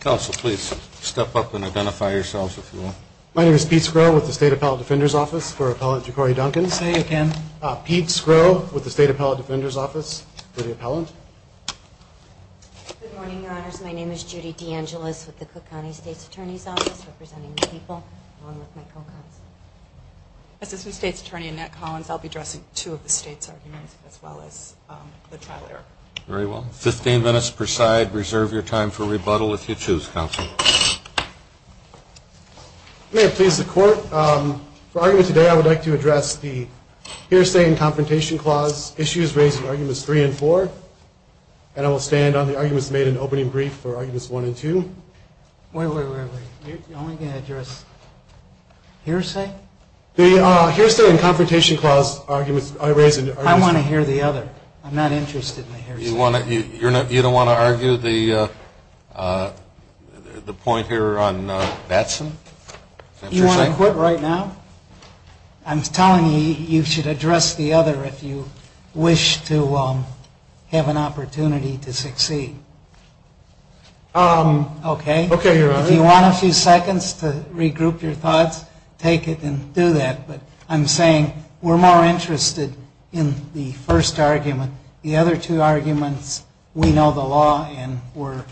Council, please step up and identify yourselves if you will. My name is Pete Skro with the State Appellate Defender's Office for Appellant J'Corey Duncan. Say it again. Pete Skro with the State Appellate Defender's Office for the Appellant. Good morning, Your Honors. My name is Judy DeAngelis with the Cook County State's Attorney's Office representing the people along with my co-counsel. Assistant State's Attorney Annette Collins. I'll be addressing two of the State's arguments as well as the trial error. Very well. Fifteen minutes per side. Reserve your time for rebuttal if you choose, Counsel. May it please the Court, for argument today I would like to address the hearsay and confrontation clause issues raised in arguments three and four. And I will stand on the arguments made in opening brief for arguments one and two. Wait, wait, wait, wait. You're only going to address hearsay? The hearsay and confrontation clause arguments I raised in the arguments. I want to hear the other. I'm not interested in the hearsay. You don't want to argue the point here on Batson? You want to quit right now? I'm telling you, you should address the other if you wish to have an opportunity to succeed. Okay. Okay, Your Honor. If you want a few seconds to regroup your thoughts, take it and do that. But I'm saying we're more interested in the first argument. The other two arguments, we know the law and we're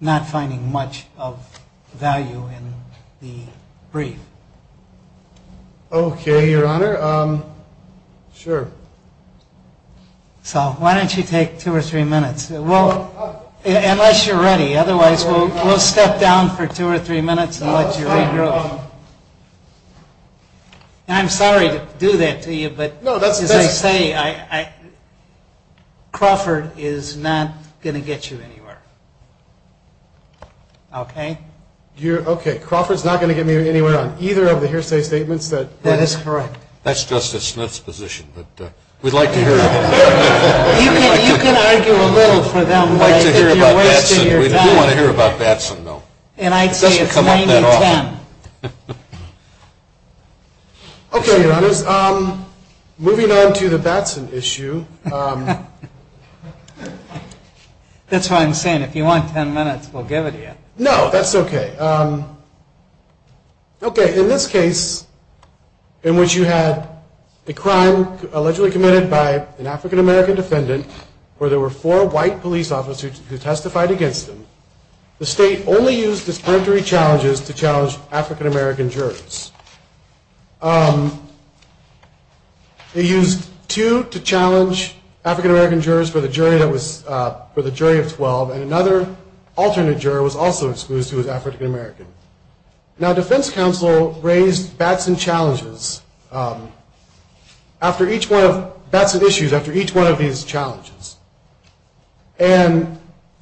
not finding much of value in the brief. Okay, Your Honor. Sure. So why don't you take two or three minutes? Unless you're ready. Otherwise, we'll step down for two or three minutes and let you regroup. And I'm sorry to do that to you, but as I say, Crawford is not going to get you anywhere. Okay? Okay. Crawford's not going to get me anywhere on either of the hearsay statements. That is correct. That's Justice Smith's position. We'd like to hear about that. You can argue a little for them. We'd like to hear about Batson. We do want to hear about Batson, though. It doesn't come up that often. And I'd say it's 90-10. Okay, Your Honors. Moving on to the Batson issue. That's what I'm saying. If you want ten minutes, we'll give it to you. No, that's okay. Okay, in this case in which you had a crime allegedly committed by an African-American defendant where there were four white police officers who testified against him, the state only used discriminatory challenges to challenge African-American jurors. They used two to challenge African-American jurors for the jury of 12, and another alternate juror was also excused who was African-American. Now, defense counsel raised Batson challenges. After each one of Batson issues, after each one of these challenges, and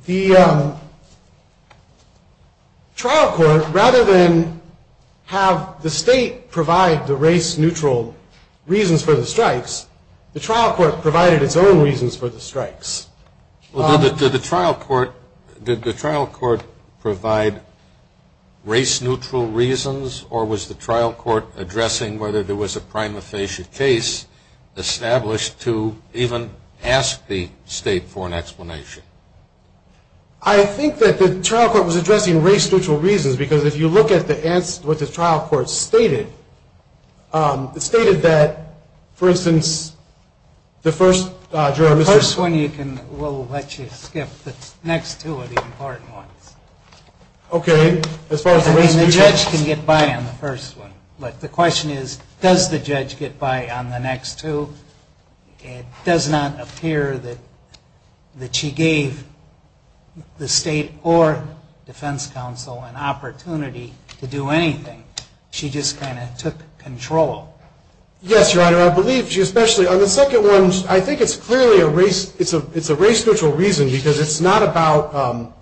the trial court, rather than have the state provide the race-neutral reasons for the strikes, the trial court provided its own reasons for the strikes. Did the trial court provide race-neutral reasons, or was the trial court addressing whether there was a prima facie case established to even ask the state for an explanation? I think that the trial court was addressing race-neutral reasons because if you look at what the trial court stated, it stated that, for instance, the first juror. We'll let you skip the next two of the important ones. Okay. I mean, the judge can get by on the first one. But the question is, does the judge get by on the next two? It does not appear that she gave the state or defense counsel an opportunity to do anything. She just kind of took control. Yes, Your Honor, I believe she especially. On the second one, I think it's clearly a race-neutral reason because it's not about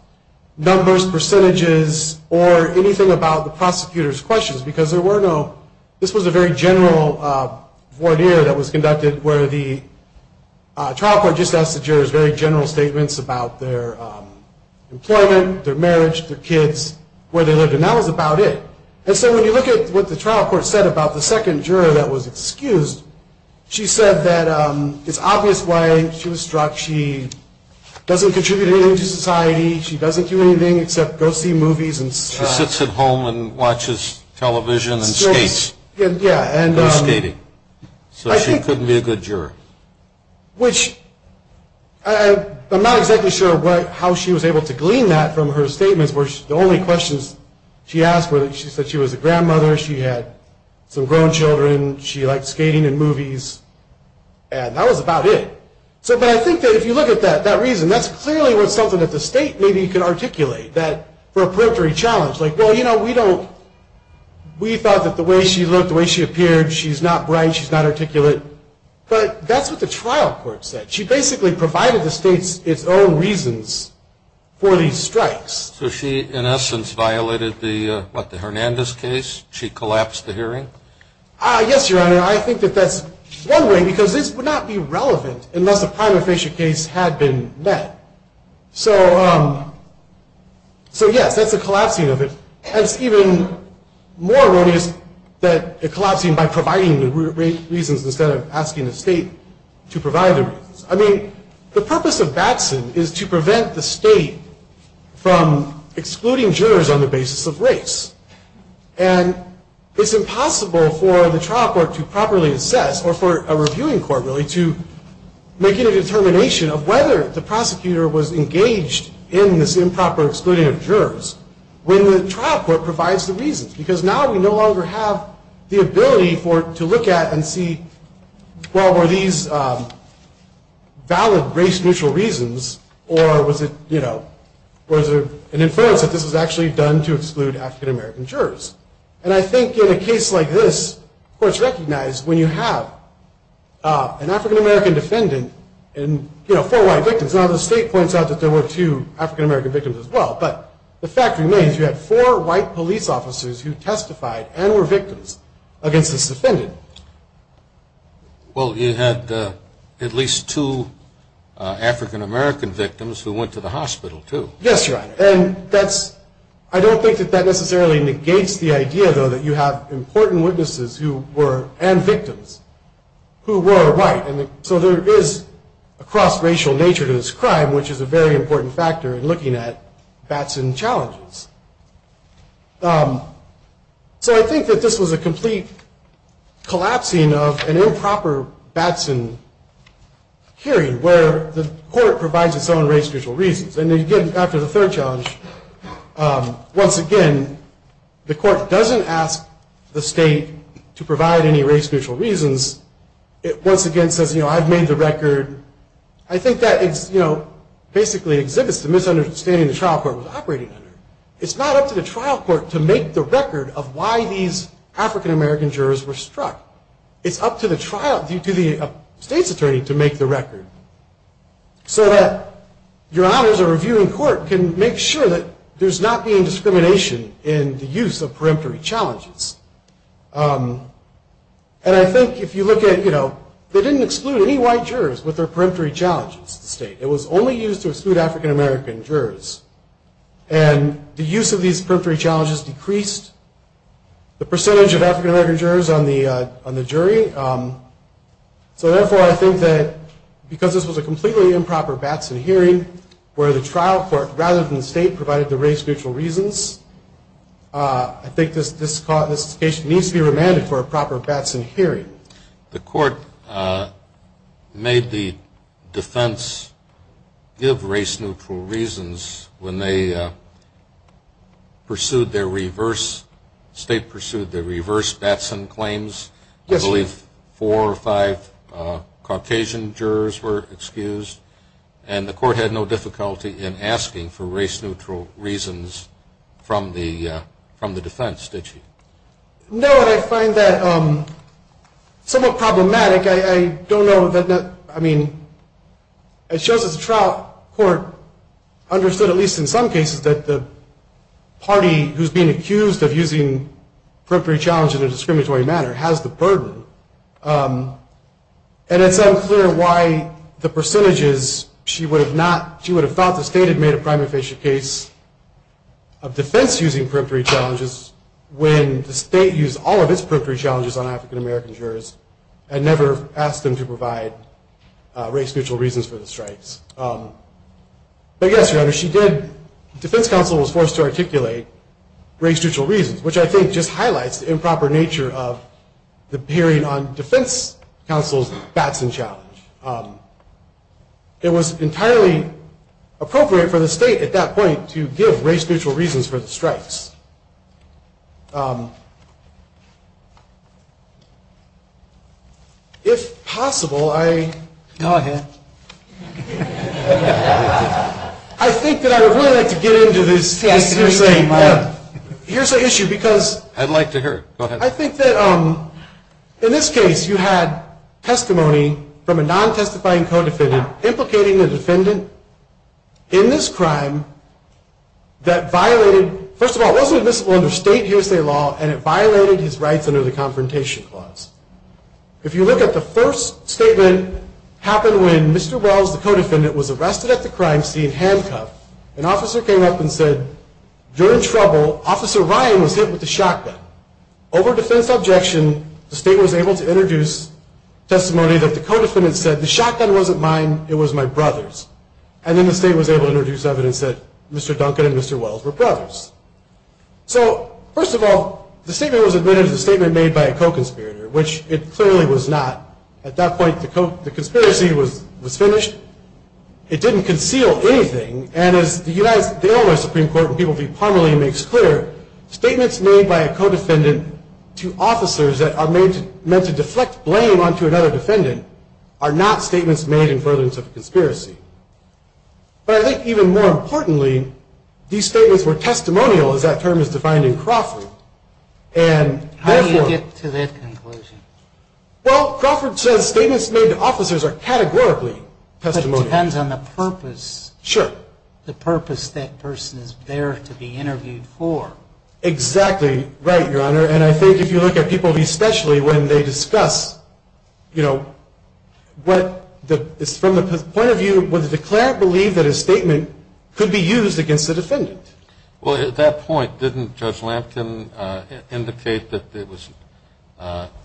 numbers, percentages, or anything about the prosecutor's questions because this was a very general voir dire that was conducted where the trial court just asked the jurors very general statements about their employment, their marriage, their kids, where they lived, and that was about it. And so when you look at what the trial court said about the second juror that was excused, she said that it's obvious why she was struck. She doesn't contribute anything to society. She doesn't do anything except go see movies. She sits at home and watches television and skates. Yeah. And goes skating. So she couldn't be a good juror. Which I'm not exactly sure how she was able to glean that from her statements where the only questions she asked were that she said she was a grandmother, she had some grown children, she liked skating and movies, and that was about it. But I think that if you look at that reason, that's clearly something that the state maybe could articulate for a periphery challenge. Like, well, you know, we thought that the way she looked, the way she appeared, she's not bright, she's not articulate. But that's what the trial court said. She basically provided the state its own reasons for these strikes. So she, in essence, violated the, what, the Hernandez case? She collapsed the hearing? Yes, Your Honor. I think that that's one way because this would not be relevant unless a prima facie case had been met. So, yes, that's a collapsing of it. And it's even more erroneous that a collapsing by providing the reasons instead of asking the state to provide the reasons. I mean, the purpose of Batson is to prevent the state from excluding jurors on the basis of race. And it's impossible for the trial court to properly assess, or for a reviewing court, really, to make a determination of whether the prosecutor was engaged in this improper excluding of jurors when the trial court provides the reasons. Because now we no longer have the ability to look at and see, well, were these valid race-neutral reasons or was it, you know, was there an inference that this was actually done to exclude African-American jurors? And I think in a case like this, courts recognize when you have an African-American defendant and, you know, four white victims, now the state points out that there were two African-American victims as well. But the fact remains you had four white police officers who testified and were victims against this defendant. Well, you had at least two African-American victims who went to the hospital, too. Yes, Your Honor. And I don't think that that necessarily negates the idea, though, that you have important witnesses who were, and victims, who were white. So there is a cross-racial nature to this crime, which is a very important factor in looking at Batson challenges. So I think that this was a complete collapsing of an improper Batson hearing, where the court provides its own race-neutral reasons. And, again, after the third challenge, once again, the court doesn't ask the state to provide any race-neutral reasons. It, once again, says, you know, I've made the record. I think that it's, you know, basically exhibits the misunderstanding the trial court was operating under. It's not up to the trial court to make the record of why these African-American jurors were struck. It's up to the trial, to the state's attorney, to make the record. So that Your Honors, a reviewing court, can make sure that there's not being discrimination in the use of peremptory challenges. And I think if you look at, you know, they didn't exclude any white jurors with their peremptory challenges to the state. It was only used to exclude African-American jurors. And the use of these peremptory challenges decreased the percentage of African-American jurors on the jury. So, therefore, I think that because this was a completely improper Batson hearing, where the trial court, rather than the state, provided the race-neutral reasons, I think this case needs to be remanded for a proper Batson hearing. The court made the defense give race-neutral reasons when they pursued their reverse, state pursued their reverse Batson claims. I believe four or five Caucasian jurors were excused. And the court had no difficulty in asking for race-neutral reasons from the defense, did she? No, and I find that somewhat problematic. I don't know that, I mean, it shows that the trial court understood, at least in some cases, that the party who's being accused of using peremptory challenges in a discriminatory manner has the burden. And it's unclear why the percentages, she would have not, she would have thought the state had made a prima facie case of defense using peremptory challenges when the state used all of its peremptory challenges on African-American jurors and never asked them to provide race-neutral reasons for the strikes. But, yes, Your Honor, she did, the defense counsel was forced to articulate race-neutral reasons, which I think just highlights the improper nature of the hearing on defense counsel's Batson challenge. It was entirely appropriate for the state at that point to give race-neutral reasons for the strikes. If possible, I... Go ahead. I think that I would really like to get into this hearsay. Here's the issue, because... I'd like to hear, go ahead. I think that in this case, you had testimony from a non-testifying co-defendant implicating the defendant in this crime that violated, first of all, it wasn't admissible under state hearsay law, and it violated his rights under the Confrontation Clause. If you look at the first statement happened when Mr. Wells, the co-defendant, was arrested at the crime scene handcuffed, an officer came up and said, you're in trouble, Officer Ryan was hit with a shotgun. Over defense objection, the state was able to introduce testimony that the co-defendant said, the shotgun wasn't mine, it was my brother's. And then the state was able to introduce evidence that Mr. Duncan and Mr. Wells were brothers. So, first of all, the statement was admitted as a statement made by a co-conspirator, which it clearly was not. At that point, the conspiracy was finished. It didn't conceal anything. And as the Illinois Supreme Court and people of the department makes clear, statements made by a co-defendant to officers that are meant to deflect blame onto another defendant are not statements made in furtherance of a conspiracy. But I think even more importantly, these statements were testimonial, as that term is defined in Crawford. And therefore... How do you get to that conclusion? Well, Crawford says statements made to officers are categorically testimonial. But it depends on the purpose. Sure. The purpose that person is there to be interviewed for. Exactly right, Your Honor. And I think if you look at people, especially when they discuss, you know, what is from the point of view, would the declarant believe that a statement could be used against a defendant? Well, at that point, didn't Judge Lampkin indicate that there was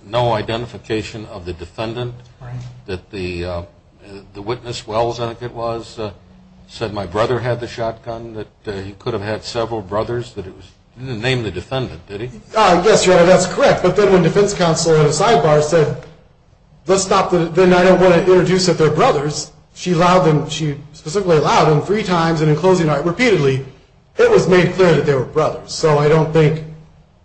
no identification of the defendant? Right. That the witness, Wells, I think it was, said my brother had the shotgun, that he could have had several brothers, that it was... He didn't name the defendant, did he? Yes, Your Honor, that's correct. But then when defense counsel at a sidebar said, let's stop, then I don't want to introduce that they're brothers, she allowed them, she specifically allowed them three times, and in closing, repeatedly it was made clear that they were brothers. So I don't think,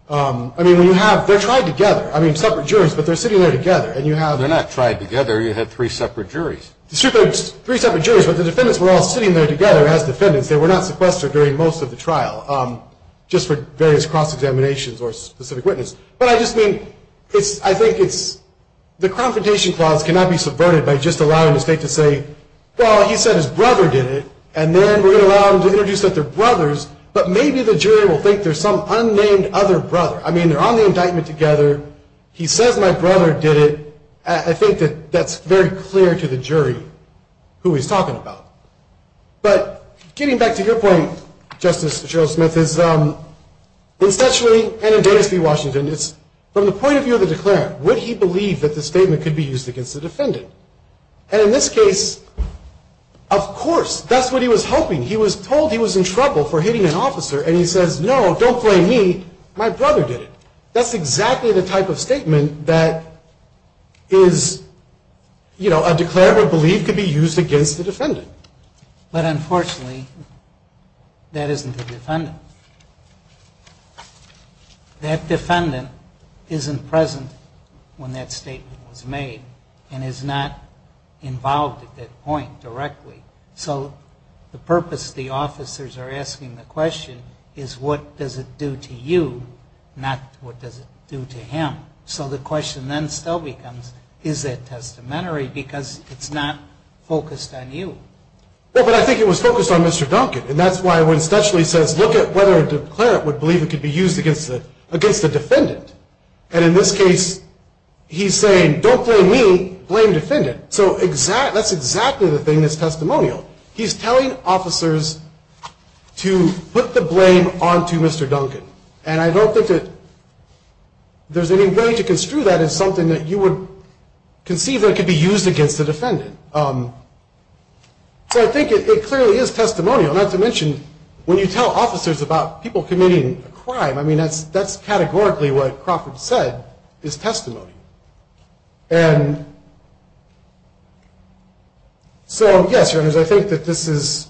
I mean, when you have, they're tried together. I mean, separate juries, but they're sitting there together, and you have... They're not tried together. You had three separate juries. Three separate juries, but the defendants were all sitting there together as defendants. They were not sequestered during most of the trial, just for various cross-examinations or specific witness. But I just mean, I think it's... The confrontation clause cannot be subverted by just allowing the state to say, well, he said his brother did it, and then we're going to allow them to introduce that they're brothers, but maybe the jury will think there's some unnamed other brother. I mean, they're on the indictment together. He says my brother did it. I think that that's very clear to the jury who he's talking about. But getting back to your point, Justice Cheryl Smith, is essentially, and in Dennis v. Washington, it's from the point of view of the declarant, would he believe that the statement could be used against the defendant? And in this case, of course, that's what he was hoping. He was told he was in trouble for hitting an officer, and he says, no, don't blame me, my brother did it. That's exactly the type of statement that is, you know, a declarant would believe could be used against the defendant. But unfortunately, that isn't the defendant. That defendant isn't present when that statement was made and is not involved at that point directly. So the purpose the officers are asking the question is, what does it do to you, not what does it do to him? So the question then still becomes, is that testamentary? Because it's not focused on you. Well, but I think it was focused on Mr. Duncan, and that's why it essentially says, look at whether a declarant would believe it could be used against the defendant. And in this case, he's saying, don't blame me, blame the defendant. So that's exactly the thing that's testimonial. He's telling officers to put the blame onto Mr. Duncan. And I don't think that there's any way to construe that as something that you would conceive that could be used against the defendant. So I think it clearly is testimonial, not to mention when you tell officers about people committing a crime, I mean, that's categorically what Crawford said is testimony. And so, yes, Your Honors, I think that this is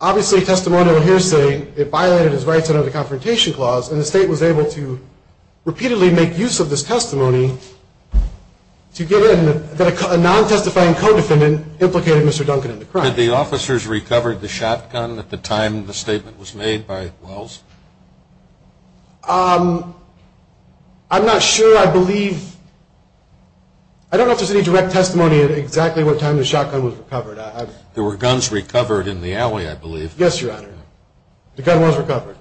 obviously testimonial hearsay. It violated his rights under the Confrontation Clause, and the state was able to repeatedly make use of this testimony to get in that a non-testifying co-defendant implicated Mr. Duncan in the crime. Had the officers recovered the shotgun at the time the statement was made by Wells? I'm not sure. I believe – I don't know if there's any direct testimony of exactly what time the shotgun was recovered. There were guns recovered in the alley, I believe. Yes, Your Honor. The gun was recovered.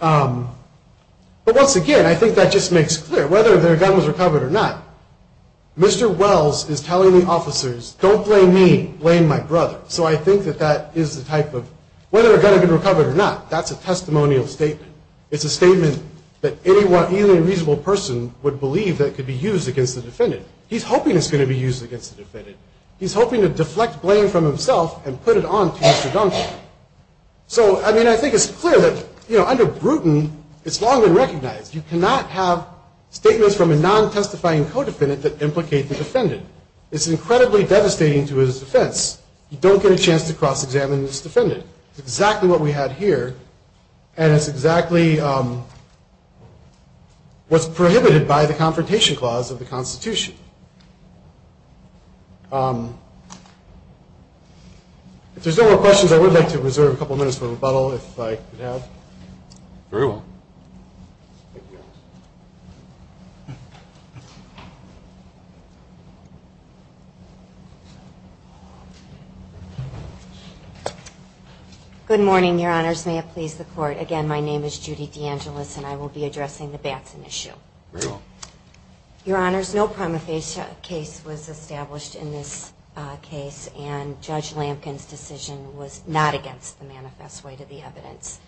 But once again, I think that just makes clear, whether their gun was recovered or not, Mr. Wells is telling the officers, don't blame me, blame my brother. So I think that that is the type of – whether a gun had been recovered or not, that's a testimonial statement. It's a statement that anyone, even a reasonable person, would believe that could be used against the defendant. He's hoping it's going to be used against the defendant. He's hoping to deflect blame from himself and put it on to Mr. Duncan. So, I mean, I think it's clear that, you know, under Bruton, it's long been recognized. You cannot have statements from a non-testifying co-defendant that implicate the defendant. It's incredibly devastating to his defense. You don't get a chance to cross-examine this defendant. It's exactly what we had here, and it's exactly what's prohibited by the Confrontation Clause of the Constitution. If there's no more questions, I would like to reserve a couple minutes for rebuttal, if I could have. Very well. Thank you, Your Honor. Good morning, Your Honors. May it please the Court. Again, my name is Judy DeAngelis, and I will be addressing the Batson issue. Very well. Your Honors, no prima facie case was established in this case, and Judge Lampkin's decision was not against the manifest way to the evidence.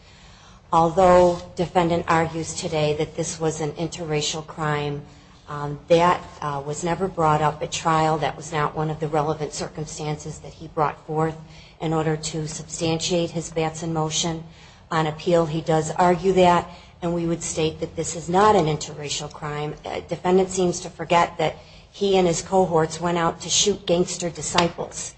Although defendant argues today that this was an interracial crime, that was never brought up at trial, that was not one of the relevant circumstances that he brought forth in order to substantiate his Batson motion on appeal. He does argue that, and we would state that this is not an interracial crime. Defendant seems to forget that he and his cohorts went out to shoot gangster disciples.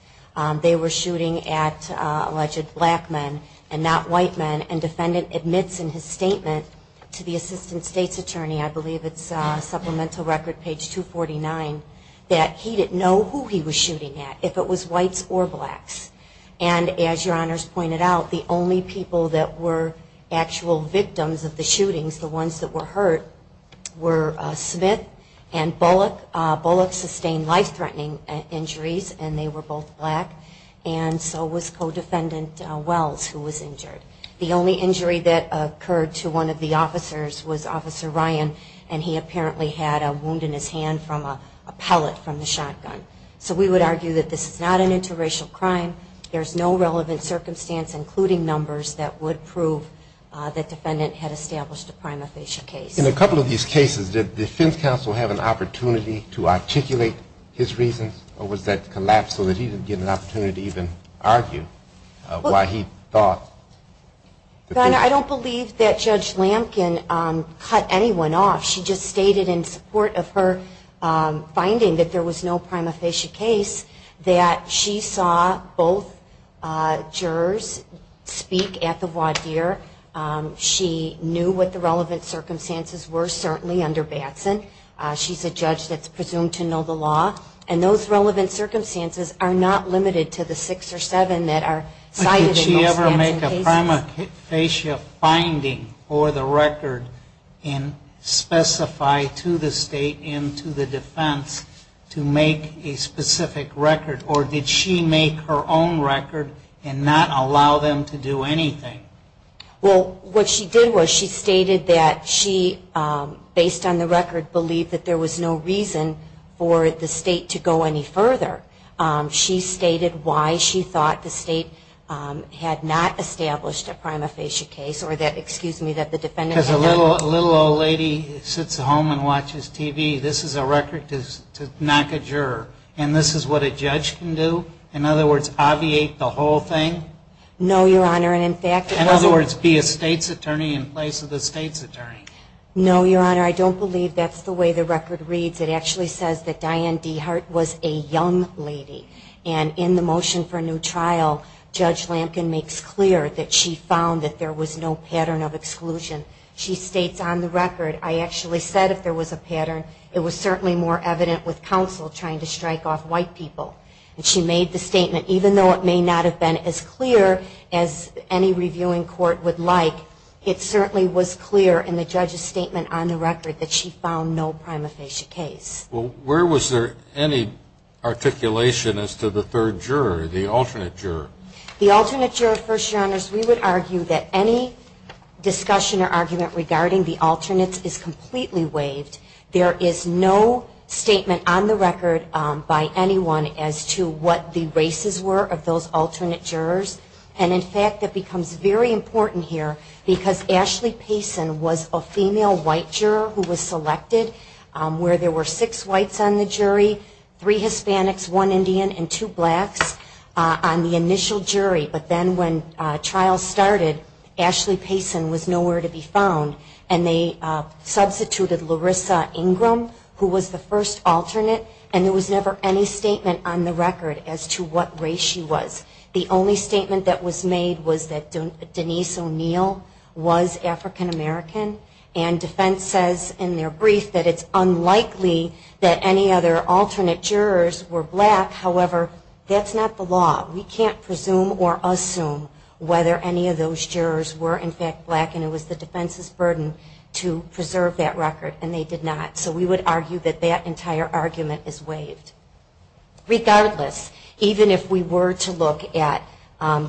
They were shooting at alleged black men and not white men, and defendant admits in his statement to the Assistant State's Attorney, I believe it's Supplemental Record, page 249, that he didn't know who he was shooting at, if it was whites or blacks. And as Your Honors pointed out, the only people that were actual victims of the shootings, the ones that were hurt, were Smith and Bullock. Bullock sustained life-threatening injuries, and they were both black, and so was co-defendant Wells, who was injured. The only injury that occurred to one of the officers was Officer Ryan, and he apparently had a wound in his hand from a pellet from the shotgun. So we would argue that this is not an interracial crime. There's no relevant circumstance, including numbers, that would prove that defendant had established a prima facie case. In a couple of these cases, did defense counsel have an opportunity to articulate his reasons, or was that collapsed so that he didn't get an opportunity to even argue why he thought? I don't believe that Judge Lampkin cut anyone off. She just stated in support of her finding that there was no prima facie case, that she saw both jurors speak at the voir dire. She knew what the relevant circumstances were, certainly under Batson. She's a judge that's presumed to know the law, and those relevant circumstances are not limited to the six or seven that are cited in those Batson cases. But did she ever make a prima facie finding for the record and specify to the state and to the defense to make a specific record, or did she make her own record and not allow them to do anything? Well, what she did was she stated that she, based on the record, believed that there was no reason for the state to go any further. She stated why she thought the state had not established a prima facie case, or that, excuse me, that the defendant had not... Because a little old lady sits at home and watches TV. This is a record to knock a juror. And this is what a judge can do? In other words, obviate the whole thing? No, Your Honor, and in fact... In other words, be a state's attorney in place of the state's attorney. No, Your Honor, I don't believe that's the way the record reads. It actually says that Diane DeHart was a young lady. And in the motion for a new trial, Judge Lampkin makes clear that she found that there was no pattern of exclusion. She states on the record, I actually said if there was a pattern. It was certainly more evident with counsel trying to strike off white people. And she made the statement, even though it may not have been as clear as any reviewing court would like, it certainly was clear in the judge's statement on the record that she found no prima facie case. Well, where was there any articulation as to the third juror, the alternate juror? The alternate juror, First Your Honors, we would argue that any discussion or argument regarding the alternates is completely waived. There is no statement on the record by anyone as to what the races were of those alternate jurors. And in fact, it becomes very important here because Ashley Payson was a female white juror who was selected where there were six whites on the jury, three Hispanics, one Indian, and two blacks on the initial jury. But then when trials started, Ashley Payson was nowhere to be found. And they substituted Larissa Ingram, who was the first alternate, and there was never any statement on the record as to what race she was. The only statement that was made was that Denise O'Neill was African American. And defense says in their brief that it's unlikely that any other alternate jurors were black. However, that's not the law. We can't presume or assume whether any of those jurors were, in fact, black. And it was the defense's burden to preserve that record, and they did not. So we would argue that that entire argument is waived. Regardless, even if we were to look at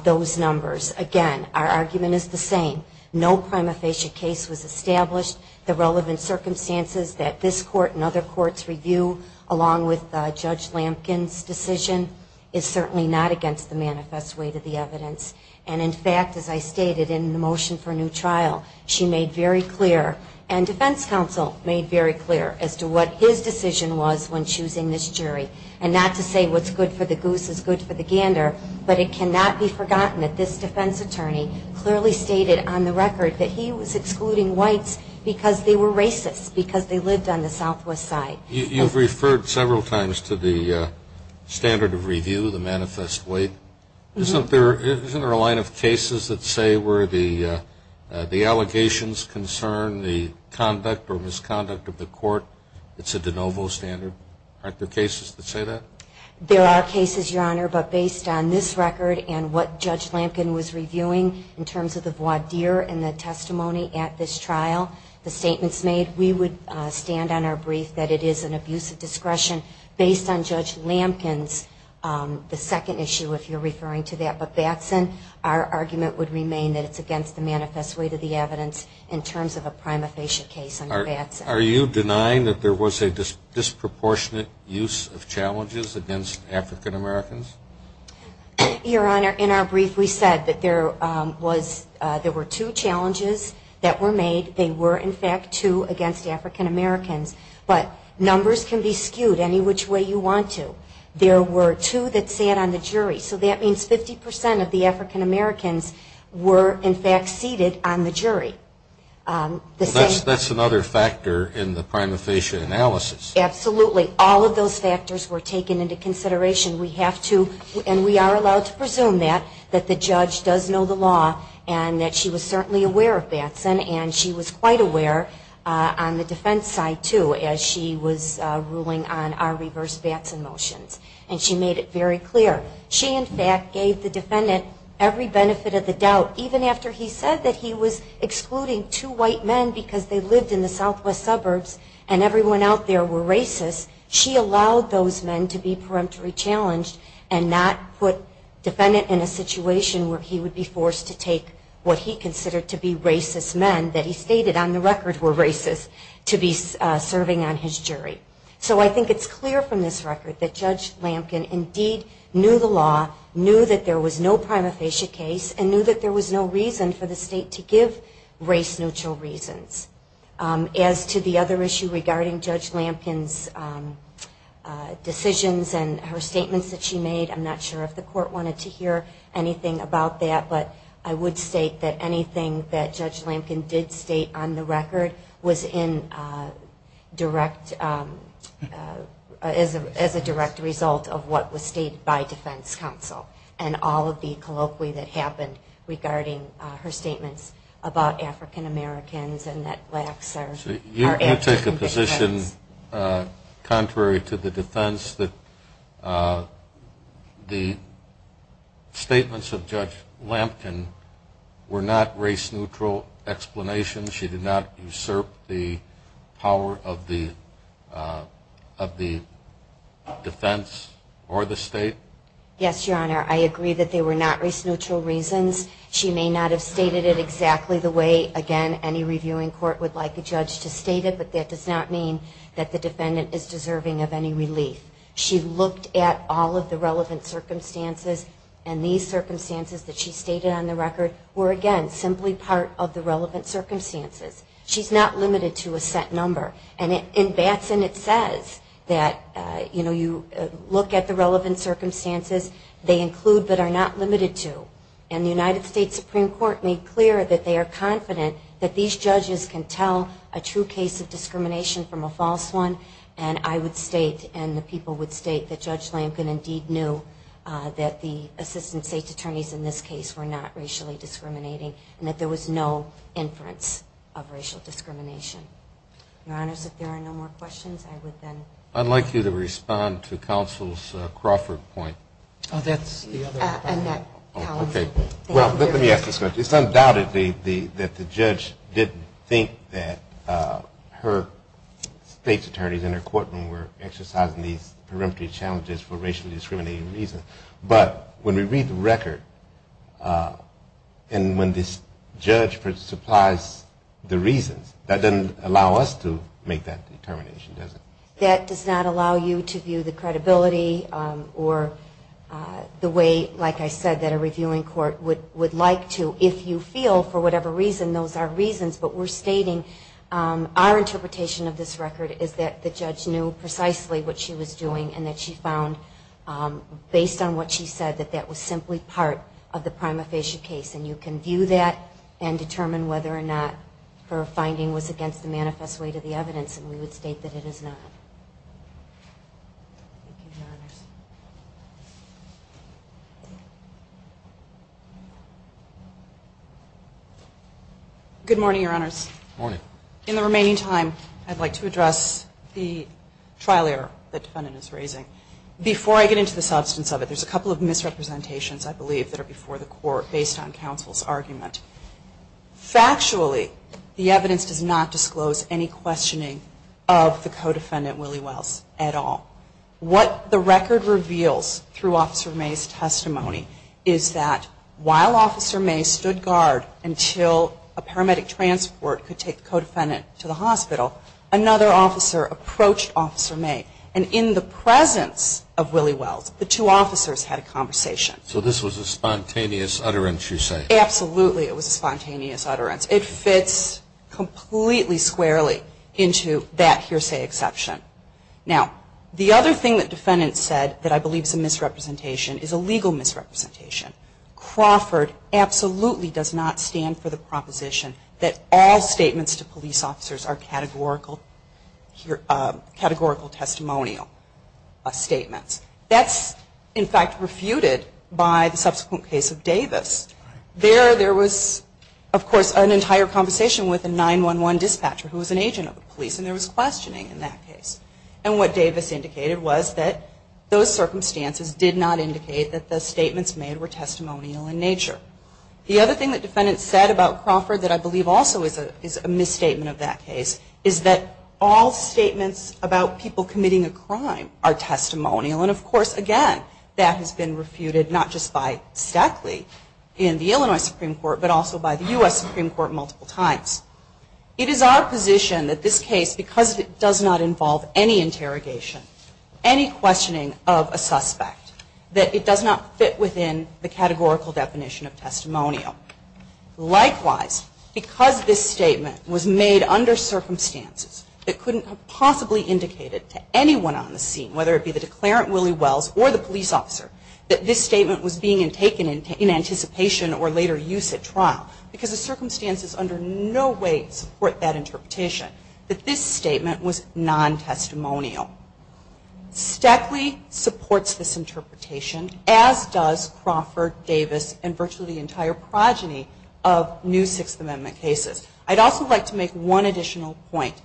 those numbers, again, our argument is the same. No prima facie case was established. The relevant circumstances that this court and other courts review, along with Judge Lampkin's decision, is certainly not against the manifest way to the evidence. And in fact, as I stated in the motion for new trial, she made very clear and defense counsel made very clear as to what his decision was when choosing this jury. And not to say what's good for the goose is good for the gander, but it cannot be forgotten that this defense attorney clearly stated on the record that he was excluding whites because they were racist, because they lived on the southwest side. You've referred several times to the standard of review, the manifest way. Isn't there a line of cases that say where the allegations concern the conduct or misconduct of the court, it's a de novo standard? Aren't there cases that say that? There are cases, Your Honor, but based on this record and what Judge Lampkin was reviewing in terms of the voir dire and the testimony at this trial, the statements made, we would stand on our brief that it is an abuse of discretion based on Judge Lampkin's the second issue if you're referring to that. But Batson, our argument would remain that it's against the manifest way to the evidence in terms of a prima facie case under Batson. Are you denying that there was a disproportionate use of challenges against African-Americans? Your Honor, in our brief we said that there were two challenges that were made. They were, in fact, two against African-Americans. But numbers can be skewed any which way you want to. There were two that sat on the jury. So that means 50% of the African-Americans were, in fact, seated on the jury. That's another factor in the prima facie analysis. Absolutely. All of those factors were taken into consideration. We have to, and we are allowed to presume that, that the judge does know the law and that she was certainly aware of Batson and she was quite aware on the defense side, too, as she was ruling on our reverse Batson motions. And she made it very clear. She, in fact, gave the defendant every benefit of the doubt. Even after he said that he was excluding two white men because they lived in the southwest suburbs and everyone out there were racist, she allowed those men to be peremptory challenged and not put defendant in a situation where he would be forced to take what he considered to be racist men that he stated on the record were racist to be serving on his jury. So I think it's clear from this record that Judge Lampkin indeed knew the law, knew that there was no prima facie case, and knew that there was no reason for the state to give race-neutral reasons. As to the other issue regarding Judge Lampkin's decisions and her statements that she made, I'm not sure if the court wanted to hear anything about that, but I would state that anything that Judge Lampkin did state on the record was in direct, as a direct result of what was stated by defense counsel and all of the colloquy that happened regarding her statements about African Americans and that blacks are abject in defense. You take the position, contrary to the defense, that the statements of Judge Lampkin were not race-neutral explanations? She did not usurp the power of the defense or the state? Yes, Your Honor. I agree that they were not race-neutral reasons. She may not have stated it exactly the way, again, any reviewing court would like a judge to state it, but that does not mean that the defendant is deserving of any relief. She looked at all of the relevant circumstances, and these circumstances that she stated on the record were, again, simply part of the relevant circumstances. She's not limited to a set number. And in Batson it says that, you know, you look at the relevant circumstances, they include but are not limited to. And the United States Supreme Court made clear that they are confident that these judges can tell a true case of discrimination from a false one, and I would state and the people would state that Judge Lampkin indeed knew that the assistant state attorneys in this case were not racially discriminating and that there was no inference of racial discrimination. Your Honors, if there are no more questions, I would then. I'd like you to respond to counsel's Crawford point. Oh, that's the other comment. Okay. Well, let me ask this question. It's undoubtedly that the judge didn't think that her state's attorneys in her courtroom were exercising these peremptory challenges for racially discriminating reasons, but when we read the record and when this judge supplies the reasons, that doesn't allow us to make that determination, does it? That does not allow you to view the credibility or the way, like I said, that a reviewing court would like to if you feel, for whatever reason, those are reasons, but we're stating our interpretation of this record is that the judge knew precisely what she was doing and that she found based on what she said that that was simply part of the prima facie case. And you can view that and determine whether or not her finding was against the manifest weight of the evidence, and we would state that it is not. Thank you, Your Honors. Good morning, Your Honors. Good morning. In the remaining time, I'd like to address the trial error that the defendant is raising. Before I get into the substance of it, there's a couple of misrepresentations, I believe, that are before the court based on counsel's argument. Factually, the evidence does not disclose any questioning of the co-defendant, Willie Wells, at all. What the record reveals through Officer May's testimony is that while Officer May stood guard until a paramedic transport could take the co-defendant to the hospital, another officer approached Officer May. And in the presence of Willie Wells, the two officers had a conversation. So this was a spontaneous utterance, you say? Absolutely, it was a spontaneous utterance. It fits completely squarely into that hearsay exception. Now, the other thing that defendants said that I believe is a misrepresentation is a legal misrepresentation. Crawford absolutely does not stand for the proposition that all statements to police officers are categorical testimonial statements. That's, in fact, refuted by the subsequent case of Davis. There, there was, of course, an entire conversation with a 911 dispatcher who was an agent of the police, and there was questioning in that case. And what Davis indicated was that those circumstances did not indicate that the statements made were testimonial in nature. The other thing that defendants said about Crawford that I believe also is a misstatement of that case is that all statements about people committing a crime are categorical. And, of course, again, that has been refuted not just by Stackley in the Illinois Supreme Court, but also by the U.S. Supreme Court multiple times. It is our position that this case, because it does not involve any interrogation, any questioning of a suspect, that it does not fit within the categorical definition of testimonial. Likewise, because this statement was made under circumstances that couldn't have possibly indicated to anyone on the scene, whether it be the declarant, Willie Wells, or the police officer, that this statement was being taken in anticipation or later use at trial, because the circumstances under no way support that interpretation, that this statement was non-testimonial. Stackley supports this interpretation, as does Crawford, Davis, and virtually the entire progeny of new Sixth Amendment cases. I'd also like to make one additional point.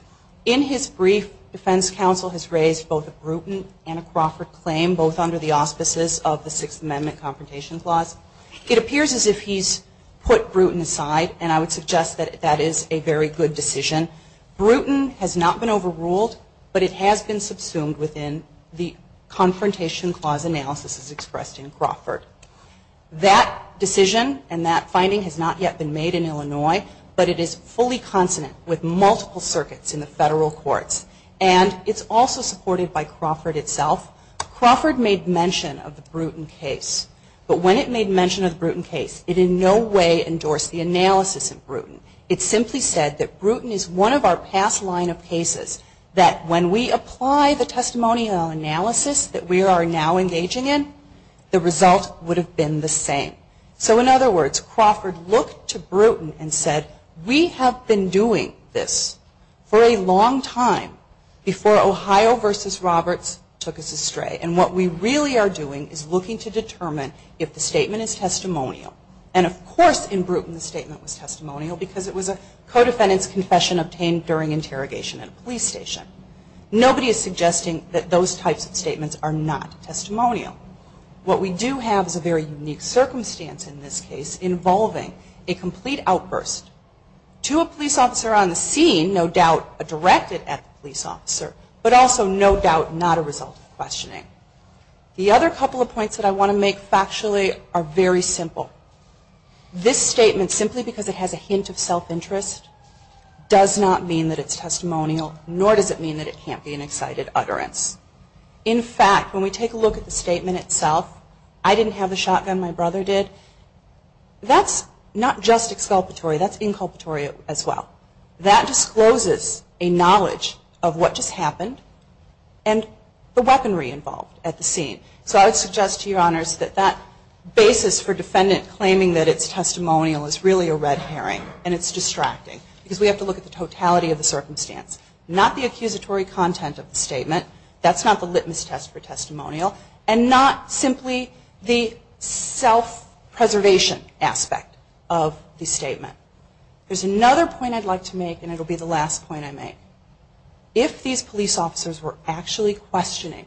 In his brief, defense counsel has raised both a Bruton and a Crawford claim, both under the auspices of the Sixth Amendment Confrontation Clause. It appears as if he's put Bruton aside, and I would suggest that that is a very good decision. Bruton has not been overruled, but it has been subsumed within the Confrontation Clause analysis as expressed in Crawford. That decision and that finding has not yet been made in Illinois, but it is fully consonant with multiple circuits in the federal courts. And it's also supported by Crawford itself. Crawford made mention of the Bruton case, but when it made mention of the Bruton case, it in no way endorsed the analysis of Bruton. It simply said that Bruton is one of our past line of cases, that when we apply the testimonial analysis that we are now engaging in, the result would have been the same. So, in other words, Crawford looked to Bruton and said, we have been doing this for a long time before Ohio versus Roberts took us astray. And what we really are doing is looking to determine if the statement is testimonial. And, of course, in Bruton the statement was testimonial because it was a co-defendant's confession obtained during interrogation at a police station. Nobody is suggesting that those types of statements are not testimonial. What we do have is a very unique circumstance in this case involving a complete outburst to a police officer on the scene, no doubt directed at the police officer, but also no doubt not a result of questioning. The other couple of points that I want to make factually are very simple. This statement, simply because it has a hint of self-interest, does not mean that it's testimonial, nor does it mean that it can't be an excited utterance. In fact, when we take a look at the statement itself, I didn't have the shotgun, my brother did, that's not just exculpatory, that's inculpatory as well. That discloses a knowledge of what just happened and the weaponry involved at the scene. So I would suggest to your honors that that basis for defendant claiming that it's testimonial is really a red herring and it's distracting because we have to look at the totality of the circumstance, not the accusatory content of the statement, that's not the litmus test for testimonial, and not simply the self-preservation aspect of the statement. There's another point I'd like to make and it'll be the last point I make. If these police officers were actually questioning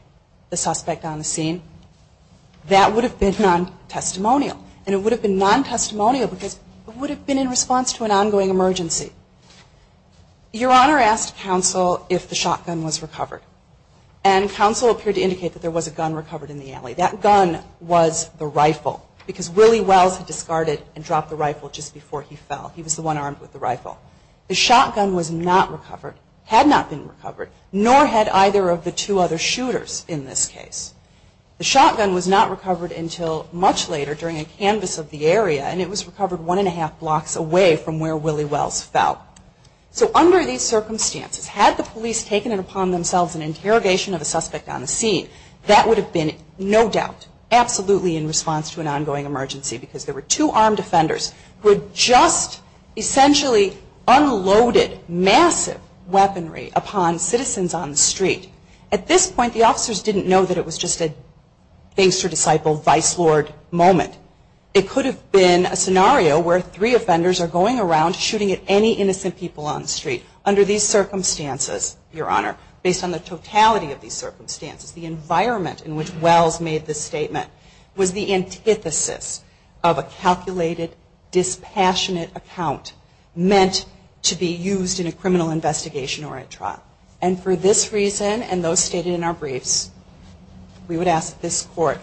the suspect on the scene, that would have been non-testimonial and it would have been non-testimonial because it would have been in response to an ongoing emergency. Your honor asked counsel if the shotgun was recovered. And counsel appeared to indicate that there was a gun recovered in the alley. That gun was the rifle because Willie Wells had discarded and dropped the rifle just before he fell. He was the one armed with the rifle. The shotgun was not recovered, had not been recovered, nor had either of the two other shooters in this case. The shotgun was not recovered until much later during a canvas of the area and it was recovered one and a half blocks away from where Willie Wells fell. So under these circumstances, had the police taken it upon themselves in interrogation of a suspect on the scene, that would have been, no doubt, absolutely in response to an ongoing emergency because there were two armed defenders who had just essentially unloaded massive weaponry upon citizens on the street. At this point, the officers didn't know that it was just a thanks to disciple vice lord moment. It could have been a scenario where three offenders are going around shooting at any innocent people on the street. Under these circumstances, your honor, based on the totality of these circumstances, the environment in which Wells made this statement was the antithesis of a calculated, dispassionate account meant to be used in a criminal investigation or a trial. And for this reason and those stated in our briefs, we would ask that this both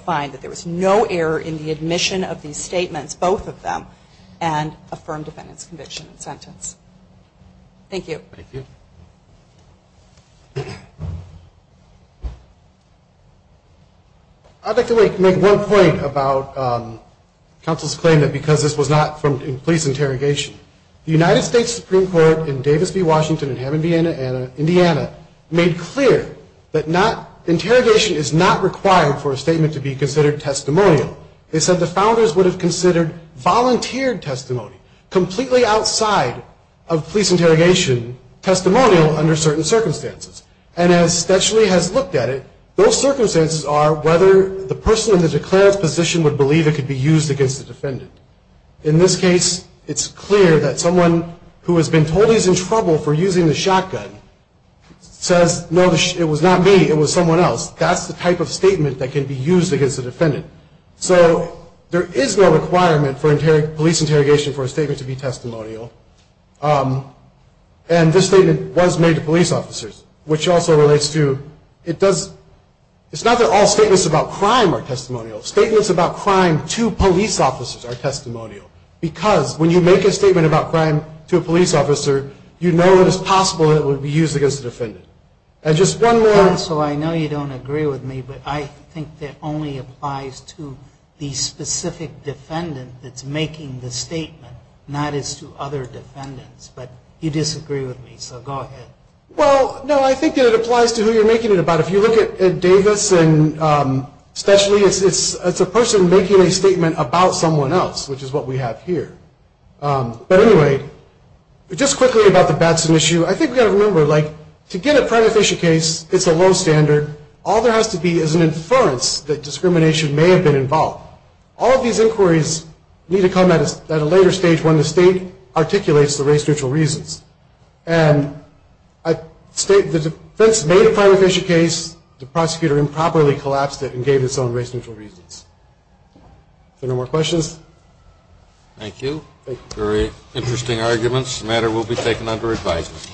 of them and affirm defendant's conviction and sentence. Thank you. Thank you. I'd like to make one point about counsel's claim that because this was not police interrogation, the United States Supreme Court in Davis v. Washington in Hammond, Indiana made clear that interrogation is not required for a statement to be considered testimonial. They said the founders would have considered volunteered testimony, completely outside of police interrogation, testimonial under certain circumstances. And as Stetschley has looked at it, those circumstances are whether the person in the declared position would believe it could be used against the defendant. In this case, it's clear that someone who has been told he's in trouble for using the shotgun says, no, it was not me, it was someone else. That's the type of statement that can be used against a defendant. So there is no requirement for police interrogation for a statement to be testimonial. And this statement was made to police officers, which also relates to it does, it's not that all statements about crime are testimonial. Statements about crime to police officers are testimonial because when you make a statement about crime to a police officer, you know it is possible that it would be used against the defendant. And just one more. So I know you don't agree with me, but I think that only applies to the specific defendant that's making the statement, not as to other defendants. But you disagree with me, so go ahead. Well, no, I think that it applies to who you're making it about. If you look at Davis and Stetschley, it's a person making a statement about someone else, which is what we have here. All there has to be is an inference that discrimination may have been involved. All of these inquiries need to come at a later stage when the state articulates the race-neutral reasons. And the defense made a crime-efficient case. The prosecutor improperly collapsed it and gave its own race-neutral reasons. If there are no more questions. Thank you. Very interesting arguments. The matter will be taken under advisement.